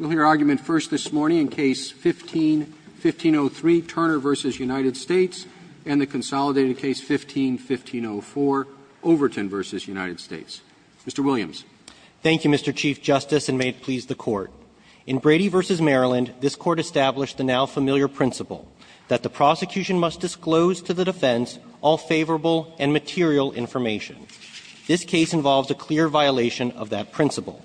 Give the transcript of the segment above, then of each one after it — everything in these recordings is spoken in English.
and the consolidated case 15-1504, Overton v. United States. Mr. Williams. Thank you, Mr. Chief Justice, and may it please the Court. In Brady v. Maryland, this Court established the now-familiar principle that the prosecution must disclose to the defense all favorable and material information. This case involves a clear violation of that principle.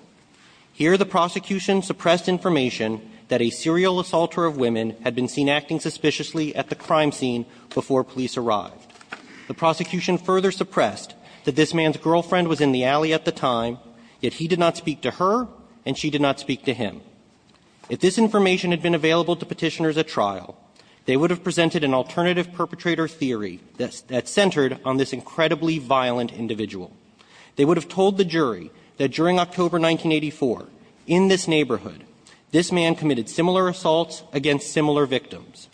Here, the prosecution suppressed information that a serial assaulter of women had been seen acting suspiciously at the crime scene before police arrived. The prosecution further suppressed that this man's girlfriend was in the alley at the time, yet he did not speak to her, and she did not speak to him. If this information had been available to Petitioners at trial, they would have presented an alternative perpetrator theory that centered on this jury, that during October 1984, in this neighborhood, this man committed similar assaults against similar victims.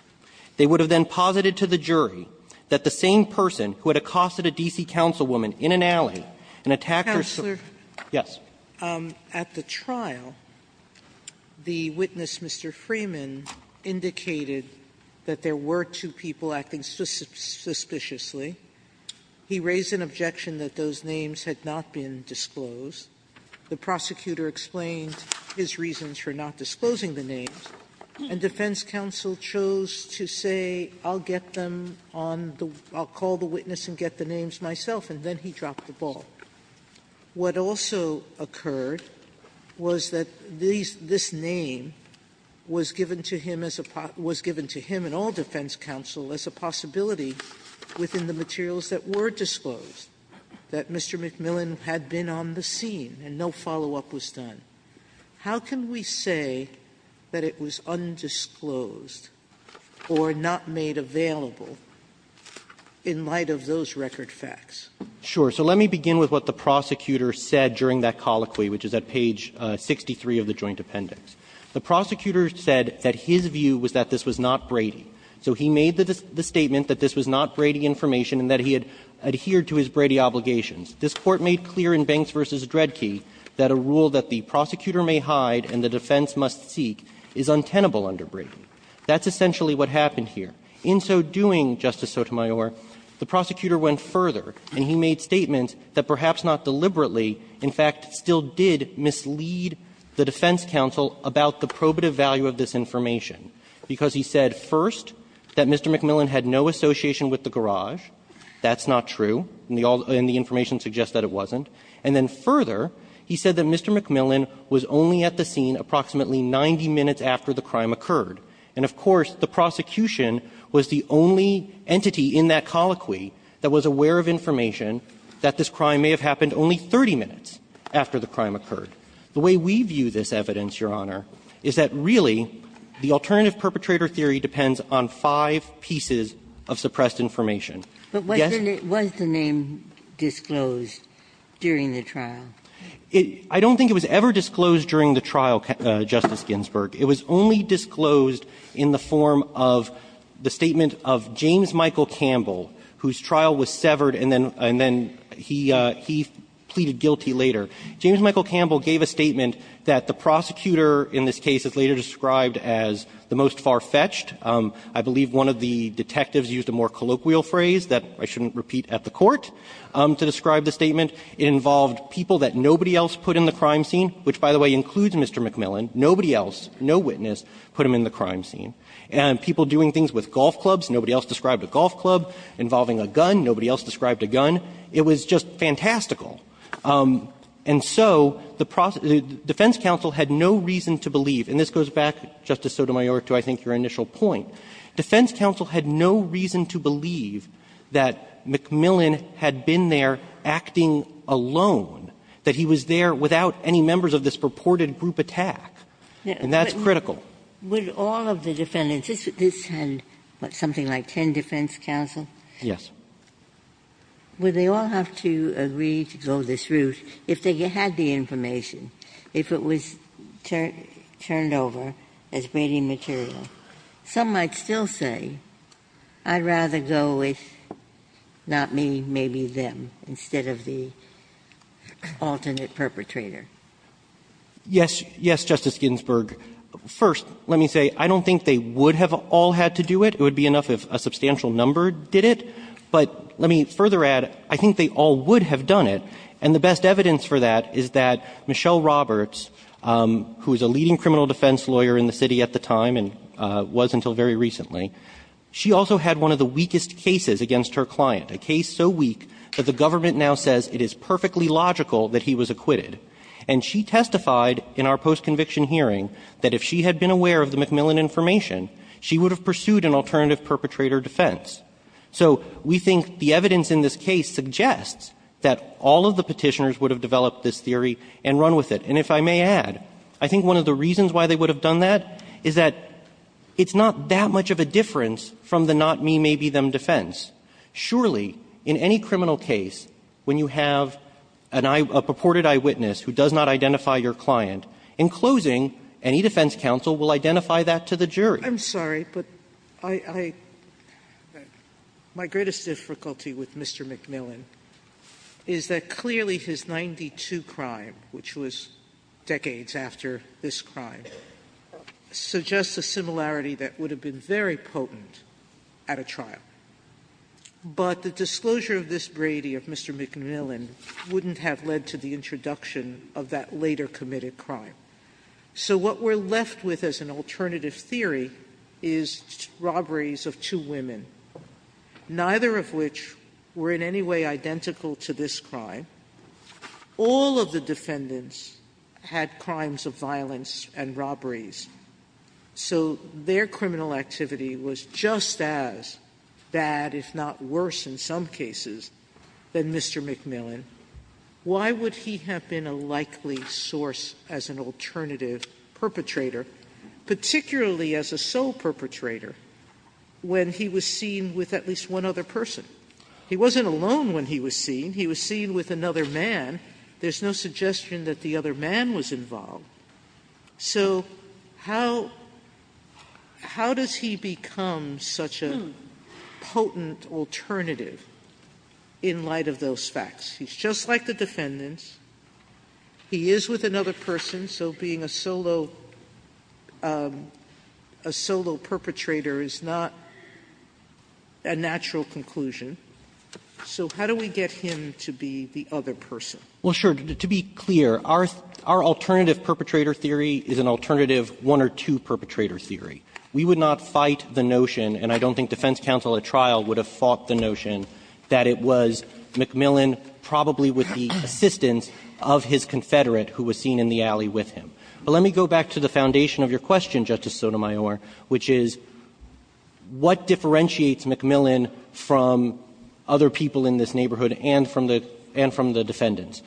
They would have then posited to the jury that the same person who had accosted a D.C. councilwoman in an alley and attacked her so ---- Sotomayor, at the trial, the witness, Mr. Freeman, indicated that there were two people acting suspiciously. He raised an objection that those names had not been disclosed. The prosecutor explained his reasons for not disclosing the names, and defense counsel chose to say, I'll get them on the ---- I'll call the witness and get the names myself, and then he dropped the ball. What also occurred was that these ---- this name was given to him as a ---- was given to him and all defense counsel as a possibility within the materials that were disclosed, that Mr. McMillan had been on the scene and no follow-up was done. How can we say that it was undisclosed or not made available in light of those record facts? Sure. So let me begin with what the prosecutor said during that colloquy, which is at page 63 of the Joint Appendix. The prosecutor said that his view was that this was not Brady. So he made the statement that this was not Brady information and that he had adhered to his Brady obligations. This Court made clear in Banks v. Dredge that a rule that the prosecutor may hide and the defense must seek is untenable under Brady. That's essentially what happened here. In so doing, Justice Sotomayor, the prosecutor went further, and he made statements that perhaps not deliberately, in fact, still did mislead the defense counsel about the probative value of this information, because he said, first, that Mr. McMillan had no association with the garage. That's not true, and the information suggests that it wasn't. And then further, he said that Mr. McMillan was only at the scene approximately 90 minutes after the crime occurred. And, of course, the prosecution was the only entity in that colloquy that was aware of information that this crime may have happened only 30 minutes after the crime occurred. The way we view this evidence, Your Honor, is that really the alternative perpetrator theory depends on five pieces of suppressed information. Yes? Ginsburg. But was the name disclosed during the trial? I don't think it was ever disclosed during the trial, Justice Ginsburg. It was only disclosed in the form of the statement of James Michael Campbell, whose trial was severed and then he pleaded guilty later. James Michael Campbell gave a statement that the prosecutor in this case is later described as the most far-fetched. I believe one of the detectives used a more colloquial phrase that I shouldn't repeat at the Court to describe the statement. It involved people that nobody else put in the crime scene, which, by the way, includes Mr. McMillan. Nobody else, no witness, put him in the crime scene. And people doing things with golf clubs, nobody else described a golf club involving a gun, nobody else described a gun. It was just fantastical. And so the defense counsel had no reason to believe, and this goes back, Justice Sotomayor, to I think your initial point. Defense counsel had no reason to believe that McMillan had been there acting alone, that he was there without any members of this purported group attack. And that's critical. Would all of the defendants, this had, what, something like ten defense counsel? Yes. Ginsburg. Would they all have to agree to go this route if they had the information, if it was turned over as braiding material? Some might still say, I'd rather go with not me, maybe them, instead of the alternate perpetrator. Yes. Yes, Justice Ginsburg. First, let me say, I don't think they would have all had to do it. It would be enough if a substantial number did it. But let me further add, I think they all would have done it. And the best evidence for that is that Michelle Roberts, who is a leading criminal defense lawyer in the city at the time and was until very recently, she also had one of the weakest cases against her client, a case so weak that the government now says it is perfectly logical that he was acquitted. And she testified in our post-conviction hearing that if she had been aware of the McMillan information, she would have pursued an alternative perpetrator defense. So we think the evidence in this case suggests that all of the Petitioners would have developed this theory and run with it. And if I may add, I think one of the reasons why they would have done that is that it's not that much of a difference from the not me, maybe them defense. Surely, in any criminal case, when you have an eye, a purported eyewitness who does not identify your client, in closing, any defense counsel will identify that to the jury. Sotomayor, I'm sorry, but I, I, my greatest difficulty with Mr. McMillan is that clearly his 92 crime, which was decades after this crime, suggests a similarity that would have been very potent at a trial. But the disclosure of this Brady of Mr. McMillan wouldn't have led to the introduction of that later committed crime. So what we're left with as an alternative theory is robberies of two women, neither of which were in any way identical to this crime. All of the defendants had crimes of violence and robberies. So their criminal activity was just as bad, if not worse in some cases, than Mr. McMillan. Why would he have been a likely source as an alternative perpetrator, particularly as a sole perpetrator, when he was seen with at least one other person? He wasn't alone when he was seen. He was seen with another man. There's no suggestion that the other man was involved. So how, how does he become such a potent alternative in light of those facts? He's just like the defendants. He is with another person, so being a solo perpetrator is not a natural conclusion. So how do we get him to be the other person? Well, sure. To be clear, our alternative perpetrator theory is an alternative one or two perpetrator theory. We would not fight the notion, and I don't think defense counsel at trial would have fought the notion, that it was McMillan, probably with the assistance of his confederate, who was seen in the alley with him. But let me go back to the foundation of your question, Justice Sotomayor, which is what differentiates McMillan from other people in this neighborhood and from the defendants?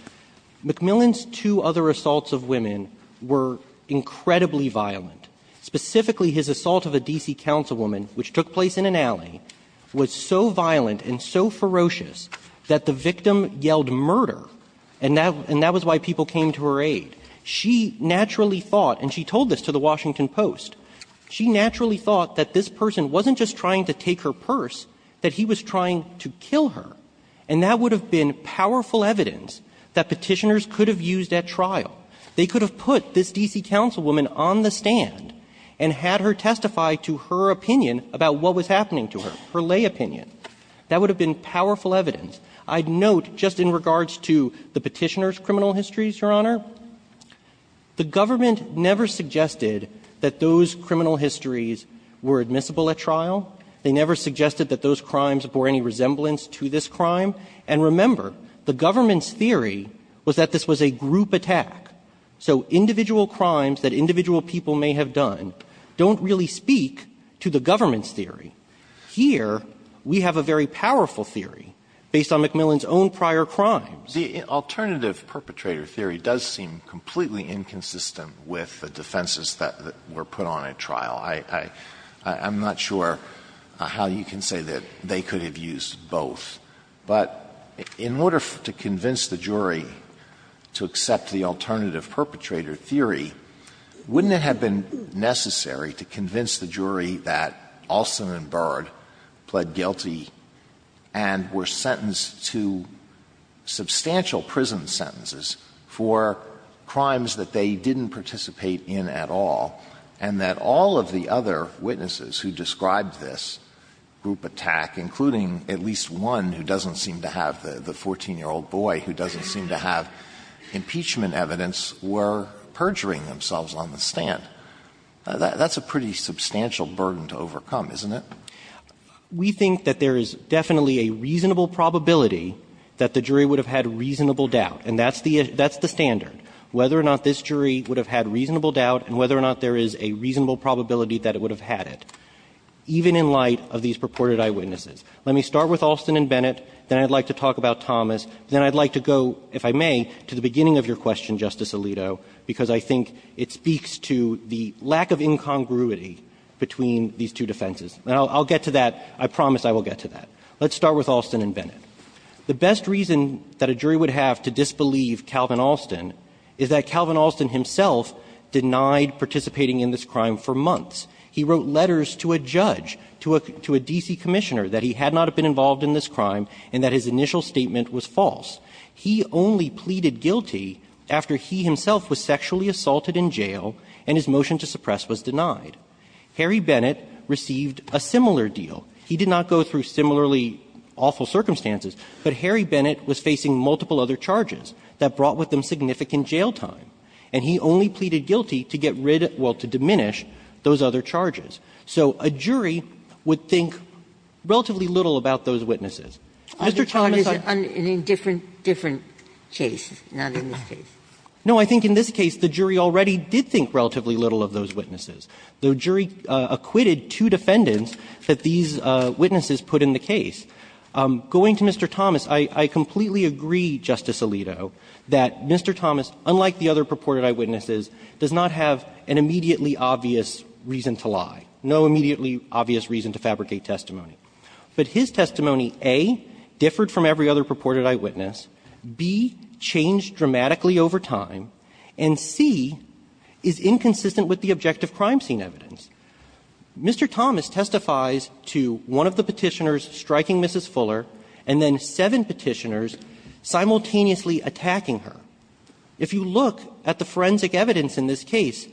McMillan's two other assaults of women were incredibly violent. Specifically, his assault of a D.C. councilwoman, which took place in an alley, was so violent and so ferocious that the victim yelled murder, and that was why people came to her aid. She naturally thought, and she told this to the Washington Post, she naturally thought that this person wasn't just trying to take her purse, that he was trying to kill her. And that would have been powerful evidence that Petitioners could have used at trial. They could have put this D.C. councilwoman on the stand and had her testify to her opinion about what was happening to her, her lay opinion. That would have been powerful evidence. I'd note, just in regards to the Petitioners' criminal histories, Your Honor, the government never suggested that those criminal histories were admissible at trial. They never suggested that those crimes bore any resemblance to this crime. And remember, the government's theory was that this was a group attack. So individual crimes that individual people may have done don't really speak to the government's theory. Here, we have a very powerful theory based on McMillan's own prior crimes. Alitornative perpetrator theory does seem completely inconsistent with the defenses that were put on at trial. I'm not sure how you can say that they could have used both. But in order to convince the jury to accept the alternative perpetrator theory, wouldn't it have been necessary to convince the jury that Olson and Byrd pled guilty and were sentenced to substantial prison sentences for crimes that they didn't participate in at all, and that all of the other witnesses who described this group attack, including at least one who doesn't seem to have the 14-year-old boy who doesn't seem to have impeachment evidence, were perjuring themselves on the stand? That's a pretty substantial burden to overcome, isn't it? We think that there is definitely a reasonable probability that the jury would have had reasonable doubt, and that's the standard, whether or not this jury would have had reasonable doubt and whether or not there is a reasonable probability that it would have had it. Even in light of these purported eyewitnesses. Let me start with Olson and Bennett, then I'd like to talk about Thomas, then I'd like to go, if I may, to the beginning of your question, Justice Alito, because I think it speaks to the lack of incongruity between these two defenses. And I'll get to that. I promise I will get to that. Let's start with Olson and Bennett. The best reason that a jury would have to disbelieve Calvin Olson is that Calvin Olson himself denied participating in this crime for months. He wrote letters to a judge, to a D.C. commissioner, that he had not been involved in this crime and that his initial statement was false. He only pleaded guilty after he himself was sexually assaulted in jail and his motion to suppress was denied. Harry Bennett received a similar deal. He did not go through similarly awful circumstances, but Harry Bennett was facing multiple other charges that brought with them significant jail time. And he only pleaded guilty to get rid of, well, to diminish those other charges. So a jury would think relatively little about those witnesses. Mr. Thomas, I'm going to say the same thing to you, Justice Alito, that a jury would think relatively little about those witnesses. The jury acquitted two defendants that these witnesses put in the case. Going to Mr. Thomas, I completely agree, Justice Alito, that Mr. Thomas, unlike the other purported eyewitnesses, does not have an immediately obvious reason to lie, no immediately obvious reason to fabricate testimony. But his testimony, A, differed from every other purported eyewitness, B, changed dramatically over time, and C, is inconsistent with the objective crime scene evidence. Mr. Thomas testifies to one of the Petitioners striking Mrs. Fuller and then seven Petitioners simultaneously attacking her. If you look at the forensic evidence in this case,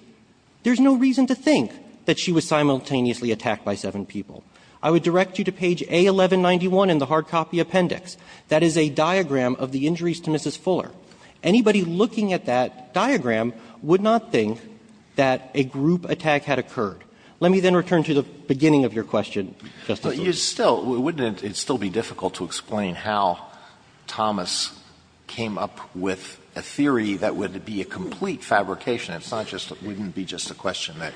there's no reason to think that she was simultaneously attacked by seven people. I would direct you to page A1191 in the hard copy appendix. That is a diagram of the injuries to Mrs. Fuller. Anybody looking at that diagram would not think that a group attack had occurred. Alito, wouldn't it still be difficult to explain how Thomas came up with a theory that would be a complete fabrication? It's not just that it wouldn't be just a question that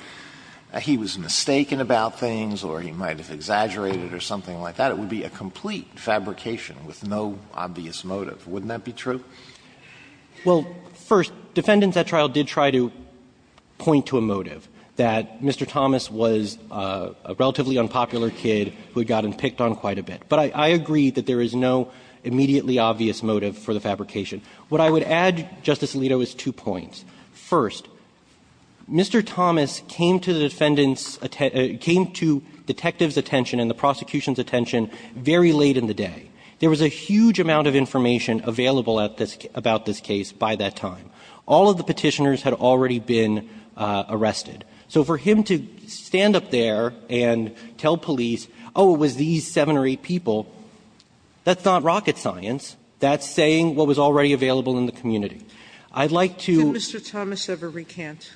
he was mistaken about things or he might have exaggerated or something like that. It would be a complete fabrication with no obvious motive. Wouldn't that be true? Well, first, defendants at trial did try to point to a motive, that Mr. Thomas was a relatively unpopular kid who had gotten picked on quite a bit. But I agree that there is no immediately obvious motive for the fabrication. What I would add, Justice Alito, is two points. First, Mr. Thomas came to the defendant's attention – came to detectives' attention and the prosecution's attention very late in the day. There was a huge amount of information available at this – about this case by that time. All of the Petitioners had already been arrested. So for him to stand up there and tell police, oh, it was these seven or eight people, that's not rocket science. That's saying what was already available in the community. I'd like to – Could Mr. Thomas ever recant?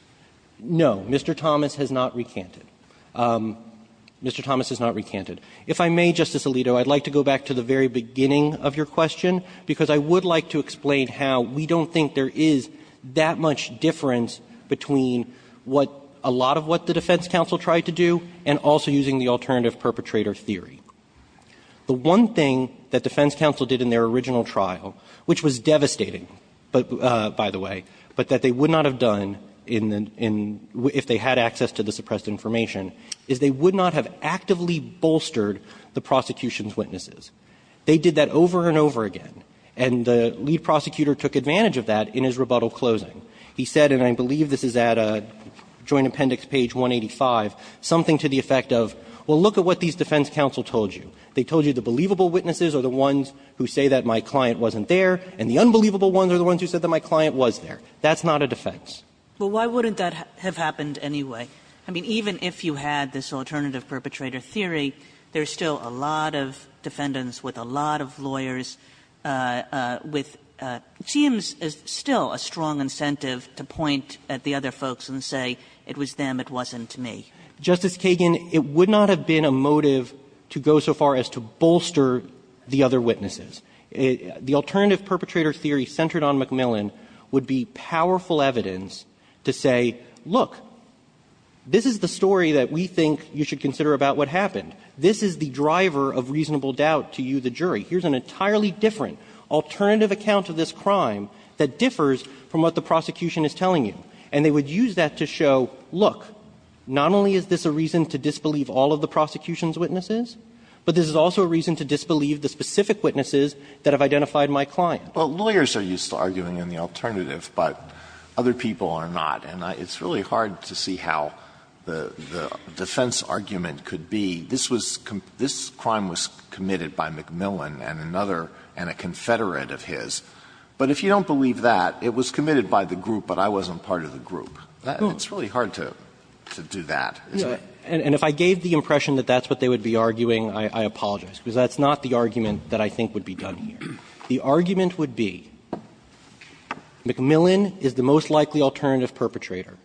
No. Mr. Thomas has not recanted. Mr. Thomas has not recanted. If I may, Justice Alito, I'd like to go back to the very beginning of your question, because I would like to explain how we don't think there is that much difference between what – a lot of what the defense counsel tried to do and also using the alternative perpetrator theory. The one thing that defense counsel did in their original trial, which was devastating, by the way, but that they would not have done in – if they had access to the suppressed information, is they would not have actively bolstered the prosecution's witnesses. They did that over and over again, and the lead prosecutor took advantage of that in his rebuttal closing. He said, and I believe this is at Joint Appendix page 185, something to the effect of, well, look at what these defense counsel told you. They told you the believable witnesses are the ones who say that my client wasn't there, and the unbelievable ones are the ones who said that my client was there. That's not a defense. Well, why wouldn't that have happened anyway? I mean, even if you had this alternative perpetrator theory, there's still a lot of defendants with a lot of lawyers with – it seems still a strong incentive to point at the other folks and say, it was them, it wasn't me. Justice Kagan, it would not have been a motive to go so far as to bolster the other witnesses. The alternative perpetrator theory centered on McMillan would be powerful evidence to say, look, this is the story that we think you should consider about what happened. This is the driver of reasonable doubt to you, the jury. Here's an entirely different alternative account of this crime that differs from what the prosecution is telling you. And they would use that to show, look, not only is this a reason to disbelieve all of the prosecution's witnesses, but this is also a reason to disbelieve the specific witnesses that have identified my client. Alitono, Jr. Well, lawyers are used to arguing in the alternative, but other people are not, and it's really hard to see how the defense argument could be. This was – this crime was committed by McMillan and another – and a confederate of his. But if you don't believe that, it was committed by the group, but I wasn't part of the group. It's really hard to do that, isn't it? And if I gave the impression that that's what they would be arguing, I apologize, because that's not the argument that I think would be done here. The argument would be McMillan is the most likely alternative perpetrator.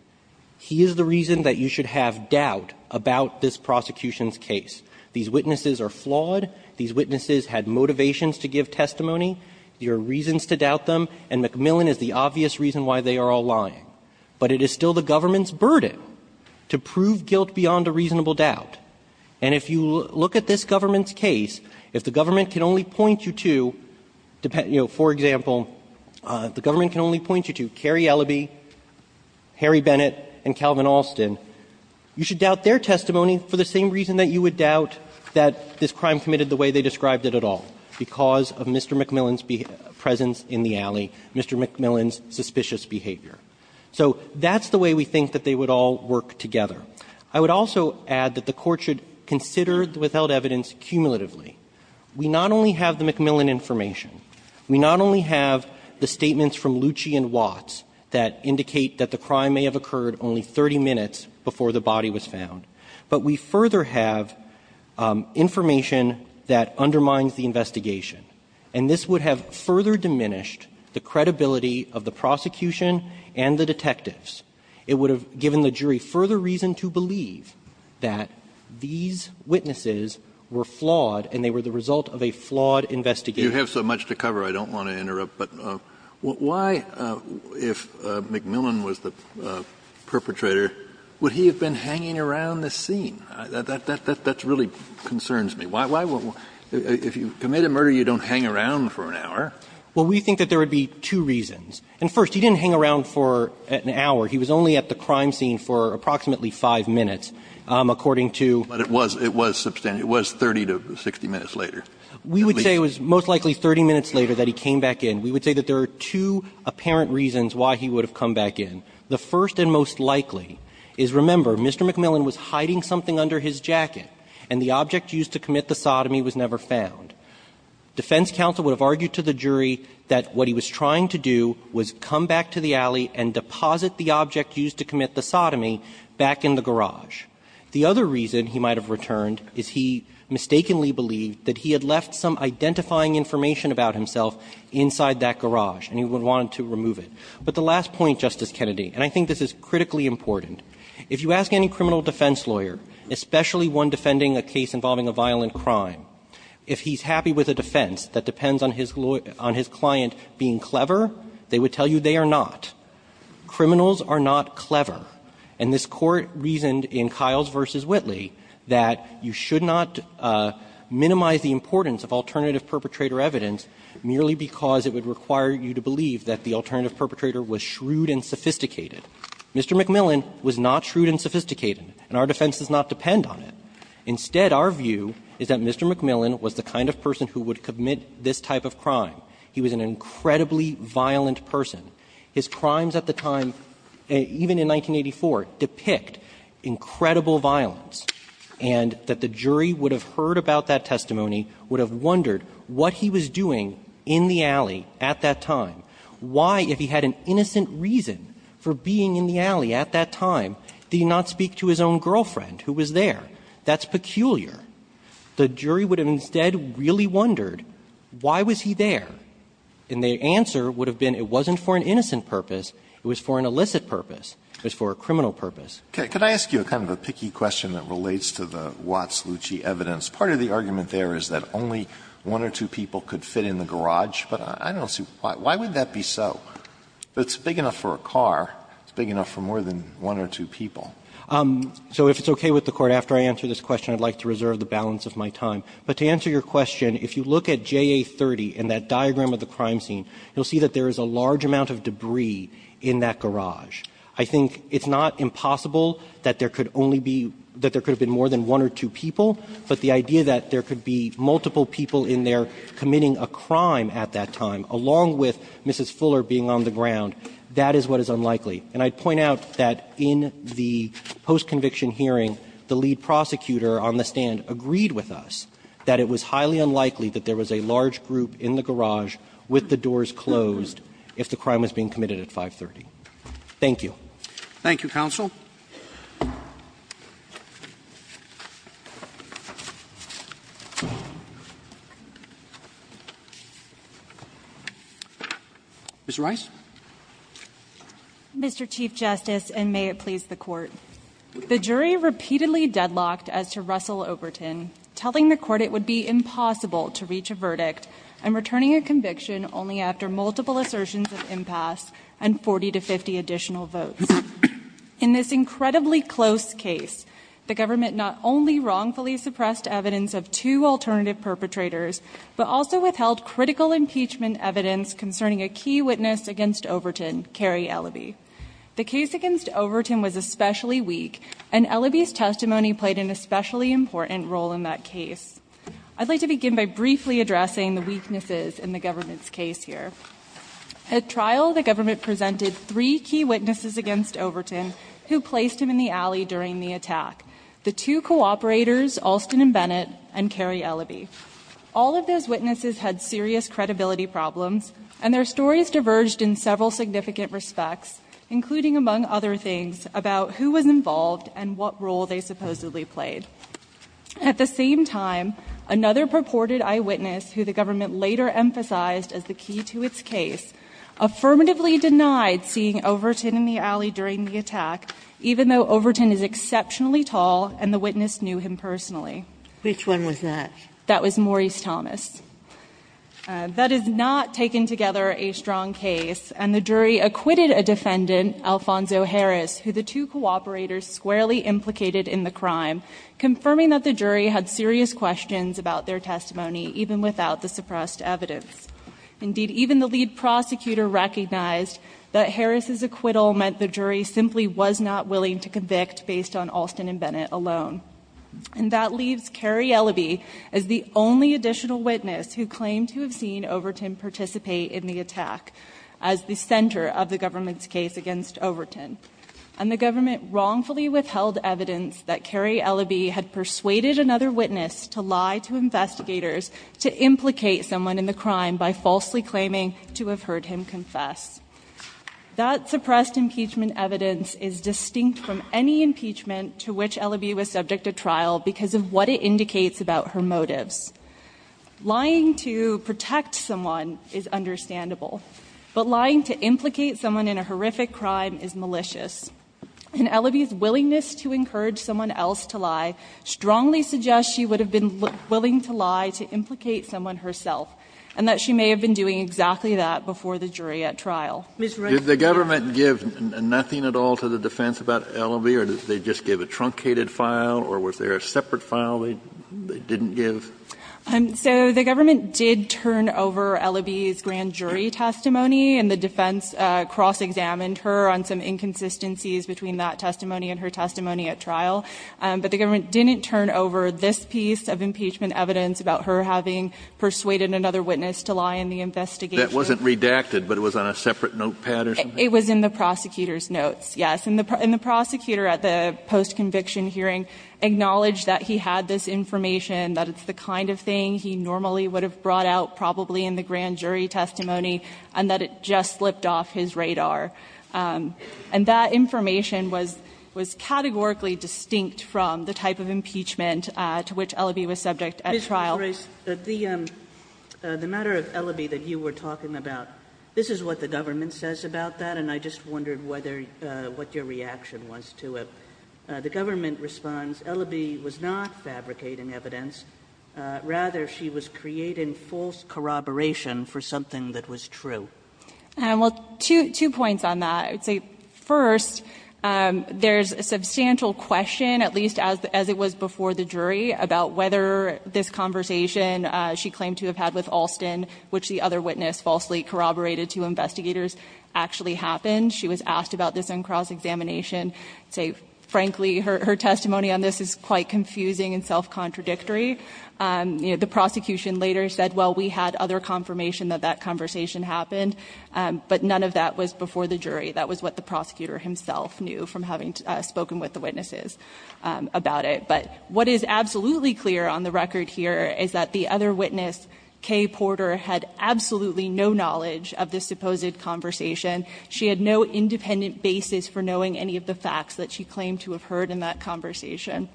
He is the reason that you should have doubt about this prosecution's case. These witnesses are flawed. These witnesses had motivations to give testimony. There are reasons to doubt them. And McMillan is the obvious reason why they are all lying. But it is still the government's burden to prove guilt beyond a reasonable doubt. And if you look at this government's case, if the government can only point you to – you know, for example, the government can only point you to Cary Elaby, Harry Bennett, and Calvin Alston, you should doubt their testimony for the same reason that you would doubt that this crime committed the way they described it at all, because of Mr. McMillan's presence in the alley, Mr. McMillan's suspicious behavior. So that's the way we think that they would all work together. I would also add that the Court should consider the withheld evidence cumulatively. We not only have the McMillan information, we not only have the statements from The body was found, but we further have information that undermines the investigation. And this would have further diminished the credibility of the prosecution and the detectives. It would have given the jury further reason to believe that these witnesses were flawed and they were the result of a flawed investigation. Kennedy, you have so much to cover, I don't want to interrupt, but why, if McMillan was the perpetrator, would he have been hanging around the scene? That really concerns me. Why would you – if you commit a murder, you don't hang around for an hour. Well, we think that there would be two reasons. And first, he didn't hang around for an hour. He was only at the crime scene for approximately five minutes, according to – But it was – it was – it was 30 to 60 minutes later. We would say it was most likely 30 minutes later that he came back in. We would say that there are two apparent reasons why he would have come back in. The first and most likely is, remember, Mr. McMillan was hiding something under his jacket, and the object used to commit the sodomy was never found. Defense counsel would have argued to the jury that what he was trying to do was come back to the alley and deposit the object used to commit the sodomy back in the garage. The other reason he might have returned is he mistakenly believed that he had left some identifying information about himself inside that garage, and he would want to remove it. But the last point, Justice Kennedy, and I think this is critically important, if you ask any criminal defense lawyer, especially one defending a case involving a violent crime, if he's happy with a defense that depends on his client being clever, they would tell you they are not. Criminals are not clever. And this Court reasoned in Kiles v. Whitley that you should not minimize the importance of alternative perpetrator evidence merely because it would require you to believe that the alternative perpetrator was shrewd and sophisticated. Mr. McMillan was not shrewd and sophisticated, and our defense does not depend on it. Instead, our view is that Mr. McMillan was the kind of person who would commit this type of crime. He was an incredibly violent person. His crimes at the time, even in 1984, depict incredible violence, and that the jury would have heard about that testimony, would have wondered what he was doing in the alley at that time. Why, if he had an innocent reason for being in the alley at that time, did he not speak to his own girlfriend who was there? That's peculiar. The jury would have instead really wondered why was he there. And the answer would have been it wasn't for an innocent purpose, it was for an illicit purpose, it was for a criminal purpose. Alitoso, could I ask you a kind of a picky question that relates to the Watts-Lucci evidence? Part of the argument there is that only one or two people could fit in the garage, but I don't see why. Why would that be so? It's big enough for a car. It's big enough for more than one or two people. So if it's okay with the Court, after I answer this question, I'd like to reserve the balance of my time. But to answer your question, if you look at JA30 and that diagram of the crime scene, you'll see that there is a large amount of debris in that garage. I think it's not impossible that there could only be – that there could have been more than one or two people, but the idea that there could be multiple people in there committing a crime at that time, along with Mrs. Fuller being on the ground, that is what is unlikely. And I'd point out that in the post-conviction hearing, the lead prosecutor on the stand agreed with us that it was highly unlikely that there was a large group in the garage with the doors closed if the crime was being committed at 530. Thank you. Roberts. Thank you, counsel. Ms. Rice. Mr. Chief Justice, and may it please the Court. The jury repeatedly deadlocked as to Russell-Oberton, telling the Court it would be impossible to reach a verdict and returning a conviction only after multiple assertions of impasse and 40 to 50 additional votes. In this incredibly close case, the government not only wrongfully suppressed evidence of two alternative perpetrators, but also withheld critical impeachment evidence concerning a key witness against Overton, Carrie Elaby. The case against Overton was especially weak, and Elaby's testimony played an especially important role in that case. I'd like to begin by briefly addressing the weaknesses in the government's case here. At trial, the government presented three key witnesses against Overton who placed him in the alley during the attack, the two cooperators, Alston and Bennett, and Carrie Elaby. All of those witnesses had serious credibility problems, and their stories diverged in several significant respects, including, among other things, about who was involved and what role they supposedly played. At the same time, another purported eyewitness, who the government later emphasized as the key to its case, affirmatively denied seeing Overton in the alley during the attack, even though Overton is exceptionally tall, and the witness knew him personally. Which one was that? That was Maurice Thomas. That is not, taken together, a strong case, and the jury acquitted a defendant, Alfonso Harris, who the two cooperators squarely implicated in the crime, confirming that the jury had serious questions about their testimony, even without the suppressed evidence. Indeed, even the lead prosecutor recognized that Harris' acquittal meant the jury simply was not willing to convict based on Alston and Bennett alone. And that leaves Carrie Elaby as the only additional witness who claimed to have seen Overton participate in the attack as the center of the government's case against Overton. And the government wrongfully withheld evidence that Carrie Elaby had persuaded another witness to lie to investigators, to implicate someone in the crime by falsely claiming to have heard him confess. That suppressed impeachment evidence is distinct from any impeachment to which Elaby was subject to trial because of what it indicates about her motives. Lying to protect someone is understandable, but lying to implicate someone in a horrific crime is malicious. And Elaby's willingness to encourage someone else to lie strongly suggests she would have been willing to lie to implicate someone herself. And that she may have been doing exactly that before the jury at trial. Ms. Ruggiero. Did the government give nothing at all to the defense about Elaby, or did they just give a truncated file? Or was there a separate file they didn't give? So the government did turn over Elaby's grand jury testimony, and the defense cross-examined her on some inconsistencies between that testimony and her testimony at trial. But the government didn't turn over this piece of impeachment evidence about her having persuaded another witness to lie in the investigation. That wasn't redacted, but it was on a separate notepad or something? It was in the prosecutor's notes, yes. And the prosecutor at the post-conviction hearing acknowledged that he had this information, that it's the kind of thing he normally would have brought out probably in the grand jury testimony, and that it just slipped off his radar. And that information was categorically distinct from the type of impeachment to which Elaby was subject at trial. The matter of Elaby that you were talking about, this is what the government says about that, and I just wondered what your reaction was to it. The government responds, Elaby was not fabricating evidence. Rather, she was creating false corroboration for something that was true. Well, two points on that. I would say, first, there's a substantial question, at least as it was before the jury, about whether this conversation she claimed to have had with Alston, which the other witness falsely corroborated to investigators, actually happened. She was asked about this on cross-examination. I'd say, frankly, her testimony on this is quite confusing and self-contradictory. The prosecution later said, well, we had other confirmation that that conversation happened, but none of that was before the jury. That was what the prosecutor himself knew from having spoken with the witnesses about it. But what is absolutely clear on the record here is that the other witness, Kay Porter, had absolutely no knowledge of this supposed conversation. She had no independent basis for knowing any of the facts that she claimed to have heard in that conversation.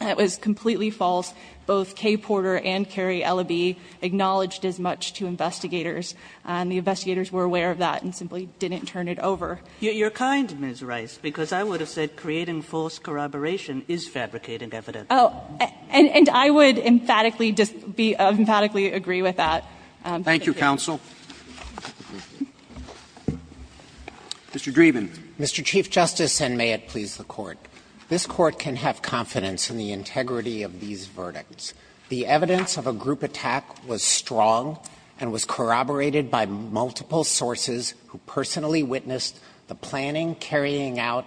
That was completely false. Both Kay Porter and Carrie Elaby acknowledged as much to investigators, and the investigators were aware of that and simply didn't turn it over. Kagan, you're kind, Ms. Rice, because I would have said creating false corroboration is fabricating evidence. Oh, and I would emphatically disagree, emphatically agree with that. Thank you, counsel. Mr. Dreeben. Mr. Chief Justice, and may it please the Court. This Court can have confidence in the integrity of these verdicts. The evidence of a group attack was strong and was corroborated by multiple sources who personally witnessed the planning, carrying out,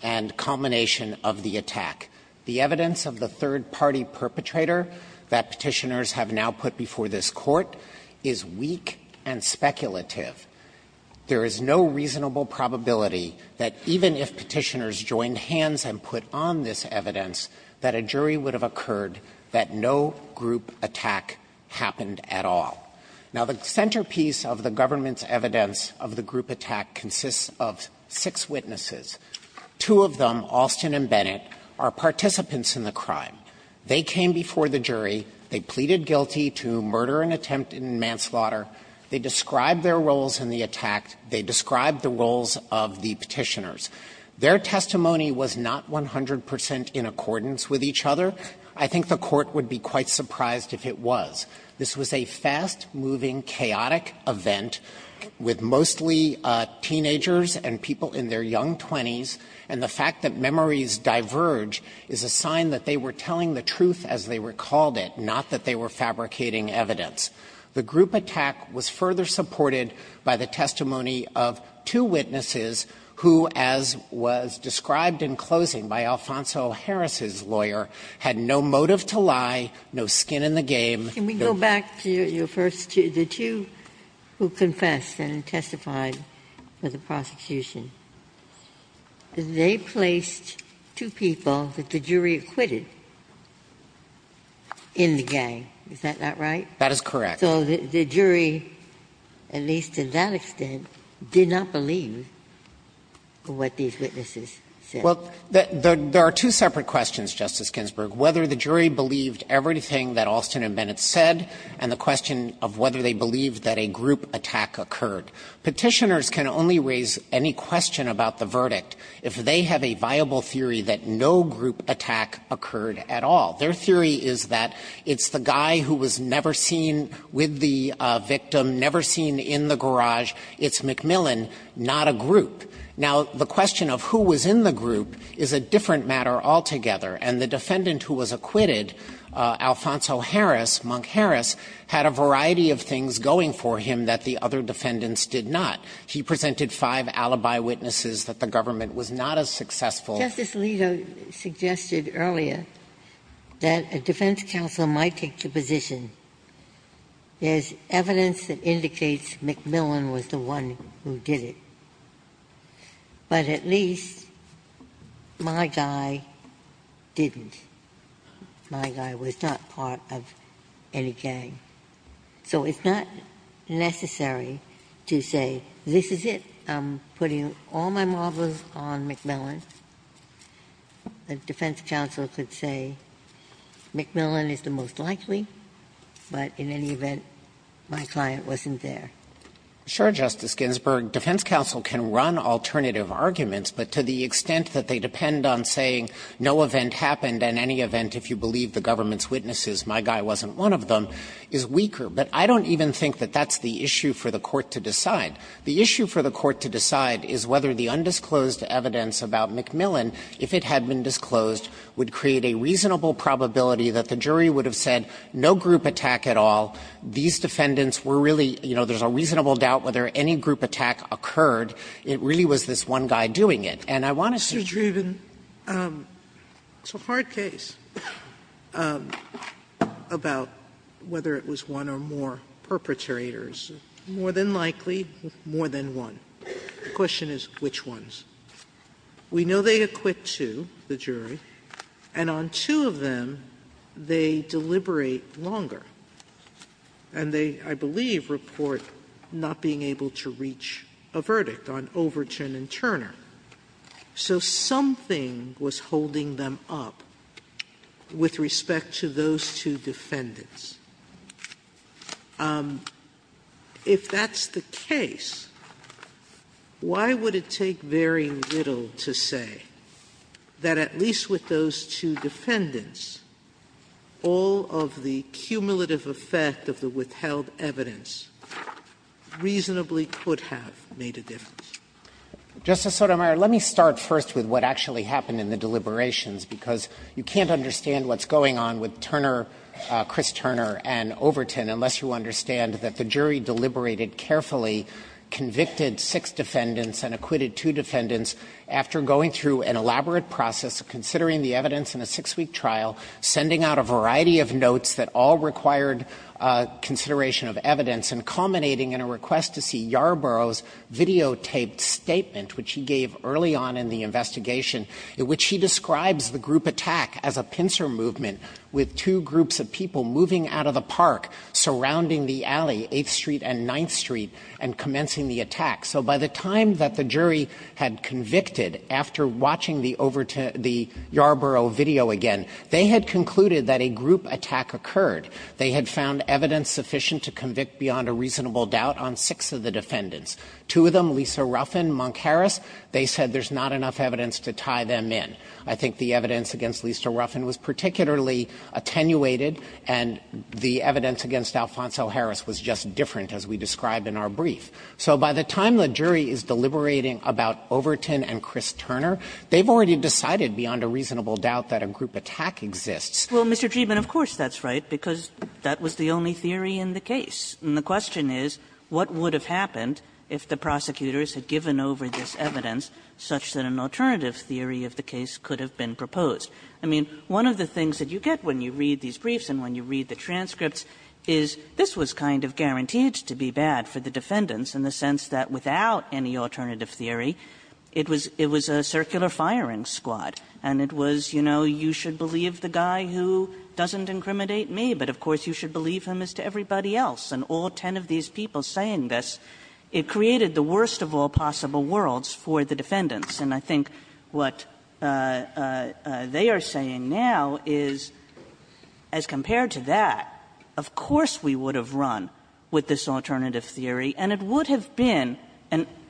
and culmination of the attack. The evidence of the third-party perpetrator that Petitioners have now put before this Court is weak and speculative. There is no reasonable probability that even if Petitioners joined hands and put on this evidence that a jury would have occurred, that no group attack happened at all. Now, the centerpiece of the government's evidence of the group attack consists of six witnesses. Two of them, Alston and Bennett, are participants in the crime. They came before the jury. They pleaded guilty to murder and attempt in manslaughter. They described their roles in the attack. They described the roles of the Petitioners. Their testimony was not 100 percent in accordance with each other. I think the Court would be quite surprised if it was. This was a fast-moving, chaotic event with mostly teenagers and people in their young 20s, and the fact that memories diverge is a sign that they were telling the truth as they recalled it, not that they were fabricating evidence. The group attack was further supported by the testimony of two witnesses who, as was described in closing by Alfonso Harris's lawyer, had no motive to lie, no skin in the game. Ginsburg. Ginsburg. Can we go back to your first two? The two who confessed and testified for the prosecution, they placed two people that the jury acquitted in the gang, is that not right? That is correct. So the jury, at least to that extent, did not believe what these witnesses said. Well, there are two separate questions, Justice Ginsburg. Whether the jury believed everything that Alston and Bennett said, and the question of whether they believed that a group attack occurred. Petitioners can only raise any question about the verdict if they have a viable theory that no group attack occurred at all. Their theory is that it's the guy who was never seen with the victim, never seen in the garage. It's McMillan, not a group. Now, the question of who was in the group is a different matter altogether. And the defendant who was acquitted, Alfonso Harris, Monk Harris, had a variety of things going for him that the other defendants did not. He presented five alibi witnesses that the government was not as successful. Justice Alito suggested earlier that a defense counsel might take the position there's evidence that indicates McMillan was the one who did it. But at least my guy didn't. My guy was not part of any gang. So it's not necessary to say, this is it, I'm putting all my marbles on McMillan. A defense counsel could say, McMillan is the most likely, but in any event, my client wasn't there. Dreeben. Dreeben. Sure, Justice Ginsburg. Defense counsel can run alternative arguments, but to the extent that they depend on saying no event happened and any event, if you believe the government's witnesses, my guy wasn't one of them, is weaker. But I don't even think that that's the issue for the court to decide. The issue for the court to decide is whether the undisclosed evidence about McMillan, if it had been disclosed, would create a reasonable probability that the jury would have said no group attack at all. These defendants were really, you know, there's a reasonable doubt whether any group attack occurred. It really was this one guy doing it. And I want to see. Sotomayor, it's a hard case about whether it was one or more perpetrators. More than likely, more than one. The question is which ones. We know they acquit two, the jury, and on two of them, they deliberate longer. And they, I believe, report not being able to reach a verdict on Overton and Turner. So something was holding them up with respect to those two defendants. If that's the case, why would it take very little to say that at least with those two defendants, all of the cumulative effect of the withheld evidence reasonably could have made a difference? Justice Sotomayor, let me start first with what actually happened in the deliberations, because you can't understand what's going on with Turner, Chris Turner, and Overton unless you understand that the jury deliberated carefully, convicted six defendants and acquitted two defendants after going through an elaborate process of considering the evidence in a six-week trial, sending out a variety of notes that all required consideration of evidence, and culminating in a request to see Yarbrough's videotaped statement, which he gave early on in the investigation, in which he describes the group attack as a pincer movement with two groups of people moving out of the park surrounding the alley, 8th Street and 9th Street, and commencing the attack. So by the time that the jury had convicted, after watching the Overton – the Yarbrough video again, they had concluded that a group attack occurred. They had found evidence sufficient to convict beyond a reasonable doubt on six of the defendants, two of them, Lisa Ruffin, Monk Harris. They said there's not enough evidence to tie them in. I think the evidence against Lisa Ruffin was particularly attenuated, and the evidence against Alfonso Harris was just different, as we described in our brief. So by the time the jury is deliberating about Overton and Chris Turner, they've already decided beyond a reasonable doubt that a group attack exists. Kagan' Well, Mr. Dreeben, of course that's right, because that was the only theory in the case. And the question is what would have happened if the prosecutors had given over this evidence, such that an alternative theory of the case could have been proposed. I mean, one of the things that you get when you read these briefs and when you read the transcripts is this was kind of guaranteed to be bad for the defendants in the sense that without any alternative theory, it was a circular firing squad. And it was, you know, you should believe the guy who doesn't incriminate me, but of course you should believe him as to everybody else. And all ten of these people saying this, it created the worst of all possible worlds for the defendants. And I think what they are saying now is, as compared to that, of course we would have run with this alternative theory, and it would have been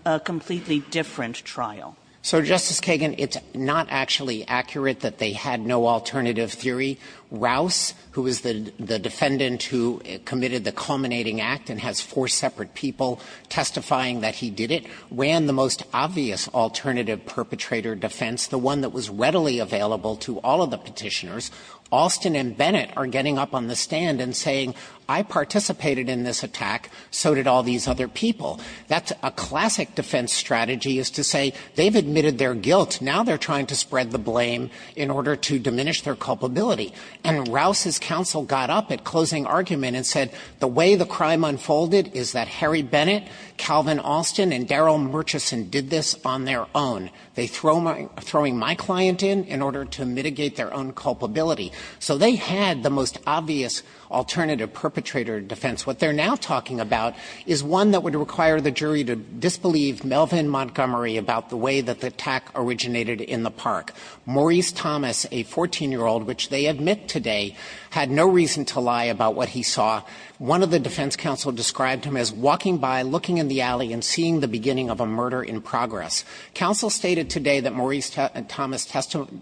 a completely different trial. Dreeben So, Justice Kagan, it's not actually accurate that they had no alternative theory. Rouse, who is the defendant who committed the culminating act and has four separate people testifying that he did it, ran the most obvious alternative perpetrator defense, the one that was readily available to all of the Petitioners. Alston and Bennett are getting up on the stand and saying, I participated in this attack, so did all these other people. That's a classic defense strategy, is to say they've admitted their guilt, now they're trying to spread the blame in order to diminish their culpability. And Rouse's counsel got up at closing argument and said, the way the crime unfolded is that Harry Bennett, Calvin Alston, and Daryl Murchison did this on their own. They're throwing my client in, in order to mitigate their own culpability. So they had the most obvious alternative perpetrator defense. What they're now talking about is one that would require the jury to disbelieve Melvin Montgomery about the way that the attack originated in the park. Maurice Thomas, a 14-year-old, which they admit today, had no reason to lie about what he saw. One of the defense counsel described him as walking by, looking in the alley, and seeing the beginning of a murder in progress. Counsel stated today that Maurice Thomas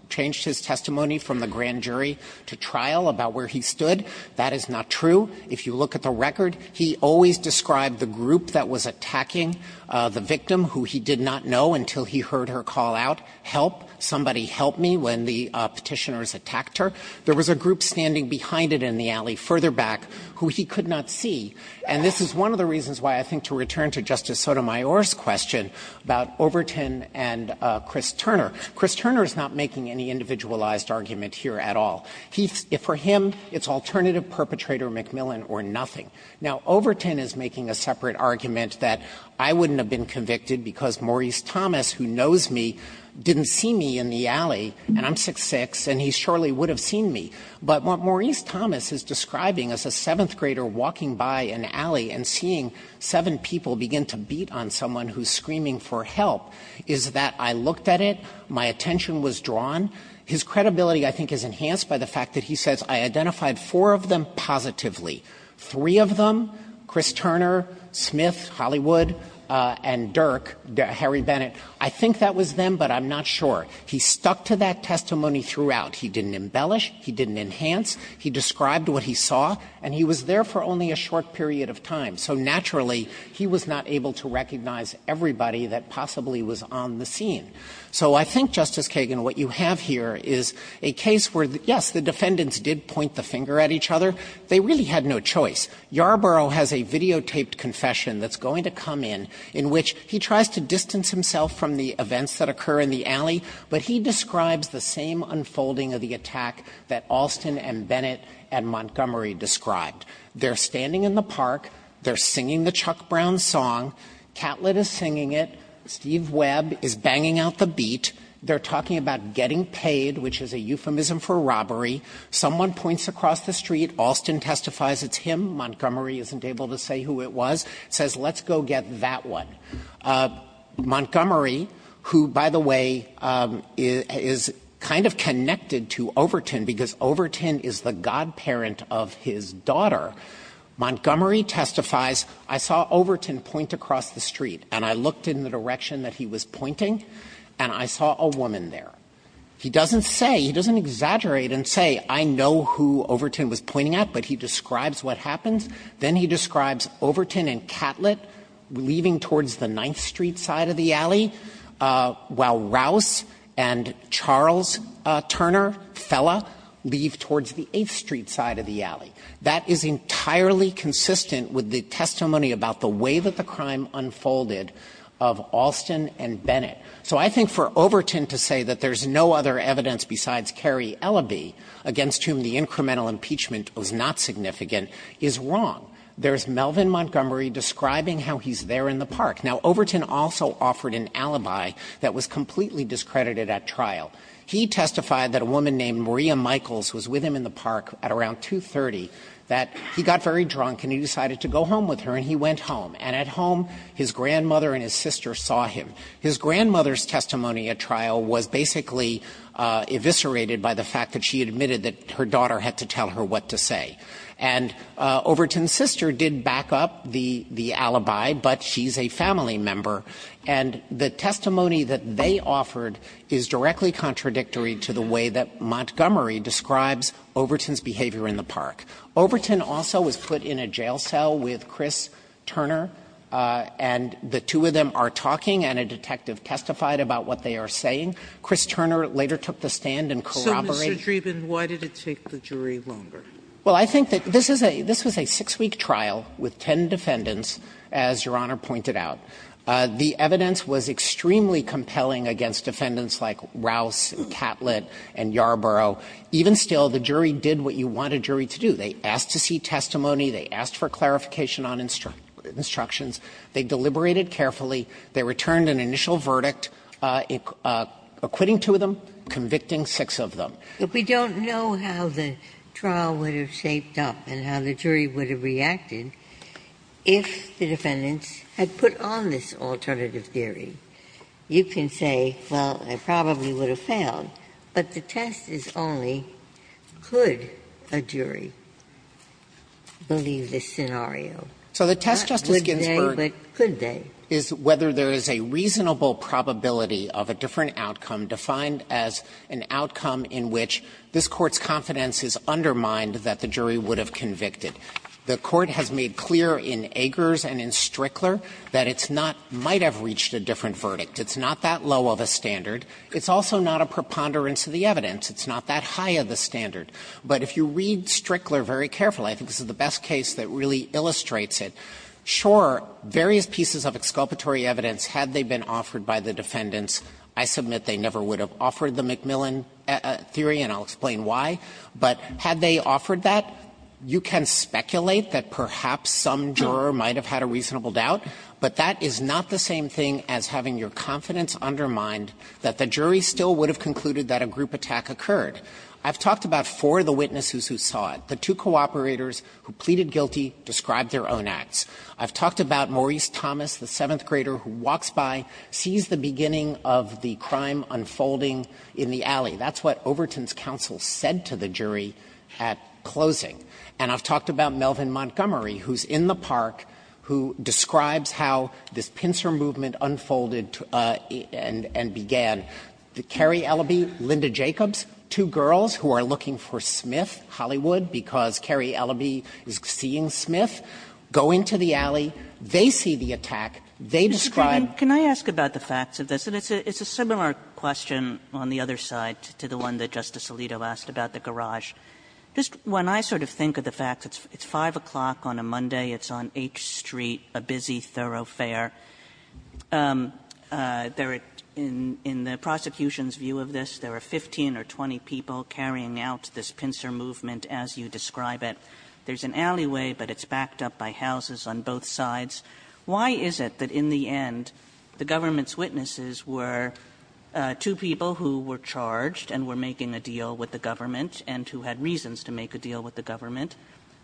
changed his testimony from the grand jury to trial about where he stood. That is not true. If you look at the record, he always described the group that was attacking the victim, who he did not know until he heard her call out, help, somebody help me, when the Petitioners attacked her. There was a group standing behind it in the alley further back who he could not see. And this is one of the reasons why I think to return to Justice Sotomayor's question about Overton and Chris Turner. Chris Turner is not making any individualized argument here at all. He's – for him, it's alternative perpetrator McMillan or nothing. Now, Overton is making a separate argument that I wouldn't have been convicted because Maurice Thomas, who knows me, didn't see me in the alley, and I'm 6'6", and he surely would have seen me. But what Maurice Thomas is describing as a 7th grader walking by an alley and seeing seven people begin to beat on someone who's screaming for help is that I looked at it, my attention was drawn. His credibility, I think, is enhanced by the fact that he says I identified four of them positively. Three of them, Chris Turner, Smith, Hollywood, and Dirk, Harry Bennett, I think that was them, but I'm not sure. He stuck to that testimony throughout. He didn't embellish. He didn't enhance. He described what he saw, and he was there for only a short period of time. So naturally, he was not able to recognize everybody that possibly was on the scene. So I think, Justice Kagan, what you have here is a case where, yes, the defendants did point the finger at each other. They really had no choice. Yarborough has a videotaped confession that's going to come in, in which he tries to distance himself from the events that occur in the alley, but he describes the same unfolding of the attack that Alston and Bennett and Montgomery described. They're standing in the park. They're singing the Chuck Brown song. Catlett is singing it. Steve Webb is banging out the beat. They're talking about getting paid, which is a euphemism for robbery. Someone points across the street. Alston testifies it's him. Montgomery isn't able to say who it was. Says, let's go get that one. Montgomery, who, by the way, is kind of connected to Overton because Overton is the godparent of his daughter, Montgomery testifies, I saw Overton point across the street, and I looked in the direction that he was pointing, and I saw a woman there. He doesn't say, he doesn't exaggerate and say, I know who Overton was pointing at, but he describes what happens. Then he describes Overton and Catlett leaving towards the Ninth Street side of the alley, while Rouse and Charles Turner, Fella, leave towards the Eighth Street side of the alley. That is entirely consistent with the testimony about the way that the crime unfolded of Alston and Bennett. So I think for Overton to say that there's no other evidence besides Cary Elaby, against whom the incremental impeachment was not significant, is wrong. There's Melvin Montgomery describing how he's there in the park. Now, Overton also offered an alibi that was completely discredited at trial. He testified that a woman named Maria Michaels was with him in the park at around 2.30, that he got very drunk and he decided to go home with her, and he went home. And at home, his grandmother and his sister saw him. His grandmother's testimony at trial was basically eviscerated by the fact that she admitted that her daughter had to tell her what to say. And Overton's sister did back up the alibi, but she's a family member, and the testimony that they offered is directly contradictory to the way that Montgomery describes Overton's behavior in the park. Overton also was put in a jail cell with Chris Turner, and the two of them are talking, and a detective testified about what they are saying. Chris Turner later took the stand and corroborated that. Sotomayor, Mr. Dreeben, why did it take the jury longer? Dreeben, this was a six-week trial with 10 defendants, as Your Honor pointed out. The evidence was extremely compelling against defendants like Rouse, Catlett, and Yarbrough. Even still, the jury did what you want a jury to do. They asked to see testimony, they asked for clarification on instructions, they deliberated carefully, they returned an initial verdict, acquitting two of them, convicting six of them. But we don't know how the trial would have shaped up and how the jury would have reacted if the defendants had put on this alternative theory. You can say, well, it probably would have failed, but the test is only, could a jury believe this scenario? Not would they, but could they. So the test, Justice Ginsburg, is whether there is a reasonable probability of a different outcome defined as an outcome in which this Court's confidence is undermined that the jury would have convicted. The Court has made clear in Agers and in Strickler that it's not might have reached a different verdict. It's not that low of a standard. It's also not a preponderance of the evidence. It's not that high of a standard. But if you read Strickler very carefully, I think this is the best case that really illustrates it. Sure, various pieces of exculpatory evidence, had they been offered by the defendants I submit they never would have offered the McMillan theory and I'll explain why. But had they offered that, you can speculate that perhaps some juror might have had a reasonable doubt, but that is not the same thing as having your confidence undermined that the jury still would have concluded that a group attack occurred. I've talked about four of the witnesses who saw it, the two cooperators who pleaded guilty, described their own acts. I've talked about Maurice Thomas, the seventh grader who walks by, sees the beginning of the crime unfolding in the alley. That's what Overton's counsel said to the jury at closing. And I've talked about Melvin Montgomery, who's in the park, who describes how this pincer movement unfolded and began. Carrie Elleby, Linda Jacobs, two girls who are looking for Smith, Hollywood, because Carrie Elleby is seeing Smith, go into the alley, they see the attack, they describe. Kagan can I ask about the facts of this? It's a similar question on the other side to the one that Justice Alito asked about the garage. Just when I sort of think of the facts, it's 5 o'clock on a Monday, it's on H Street, a busy thoroughfare. There are, in the prosecution's view of this, there are 15 or 20 people carrying out this pincer movement as you describe it. There's an alleyway, but it's backed up by houses on both sides. Why is it that in the end, the government's witnesses were two people who were charged and were making a deal with the government and who had reasons to make a deal with the government,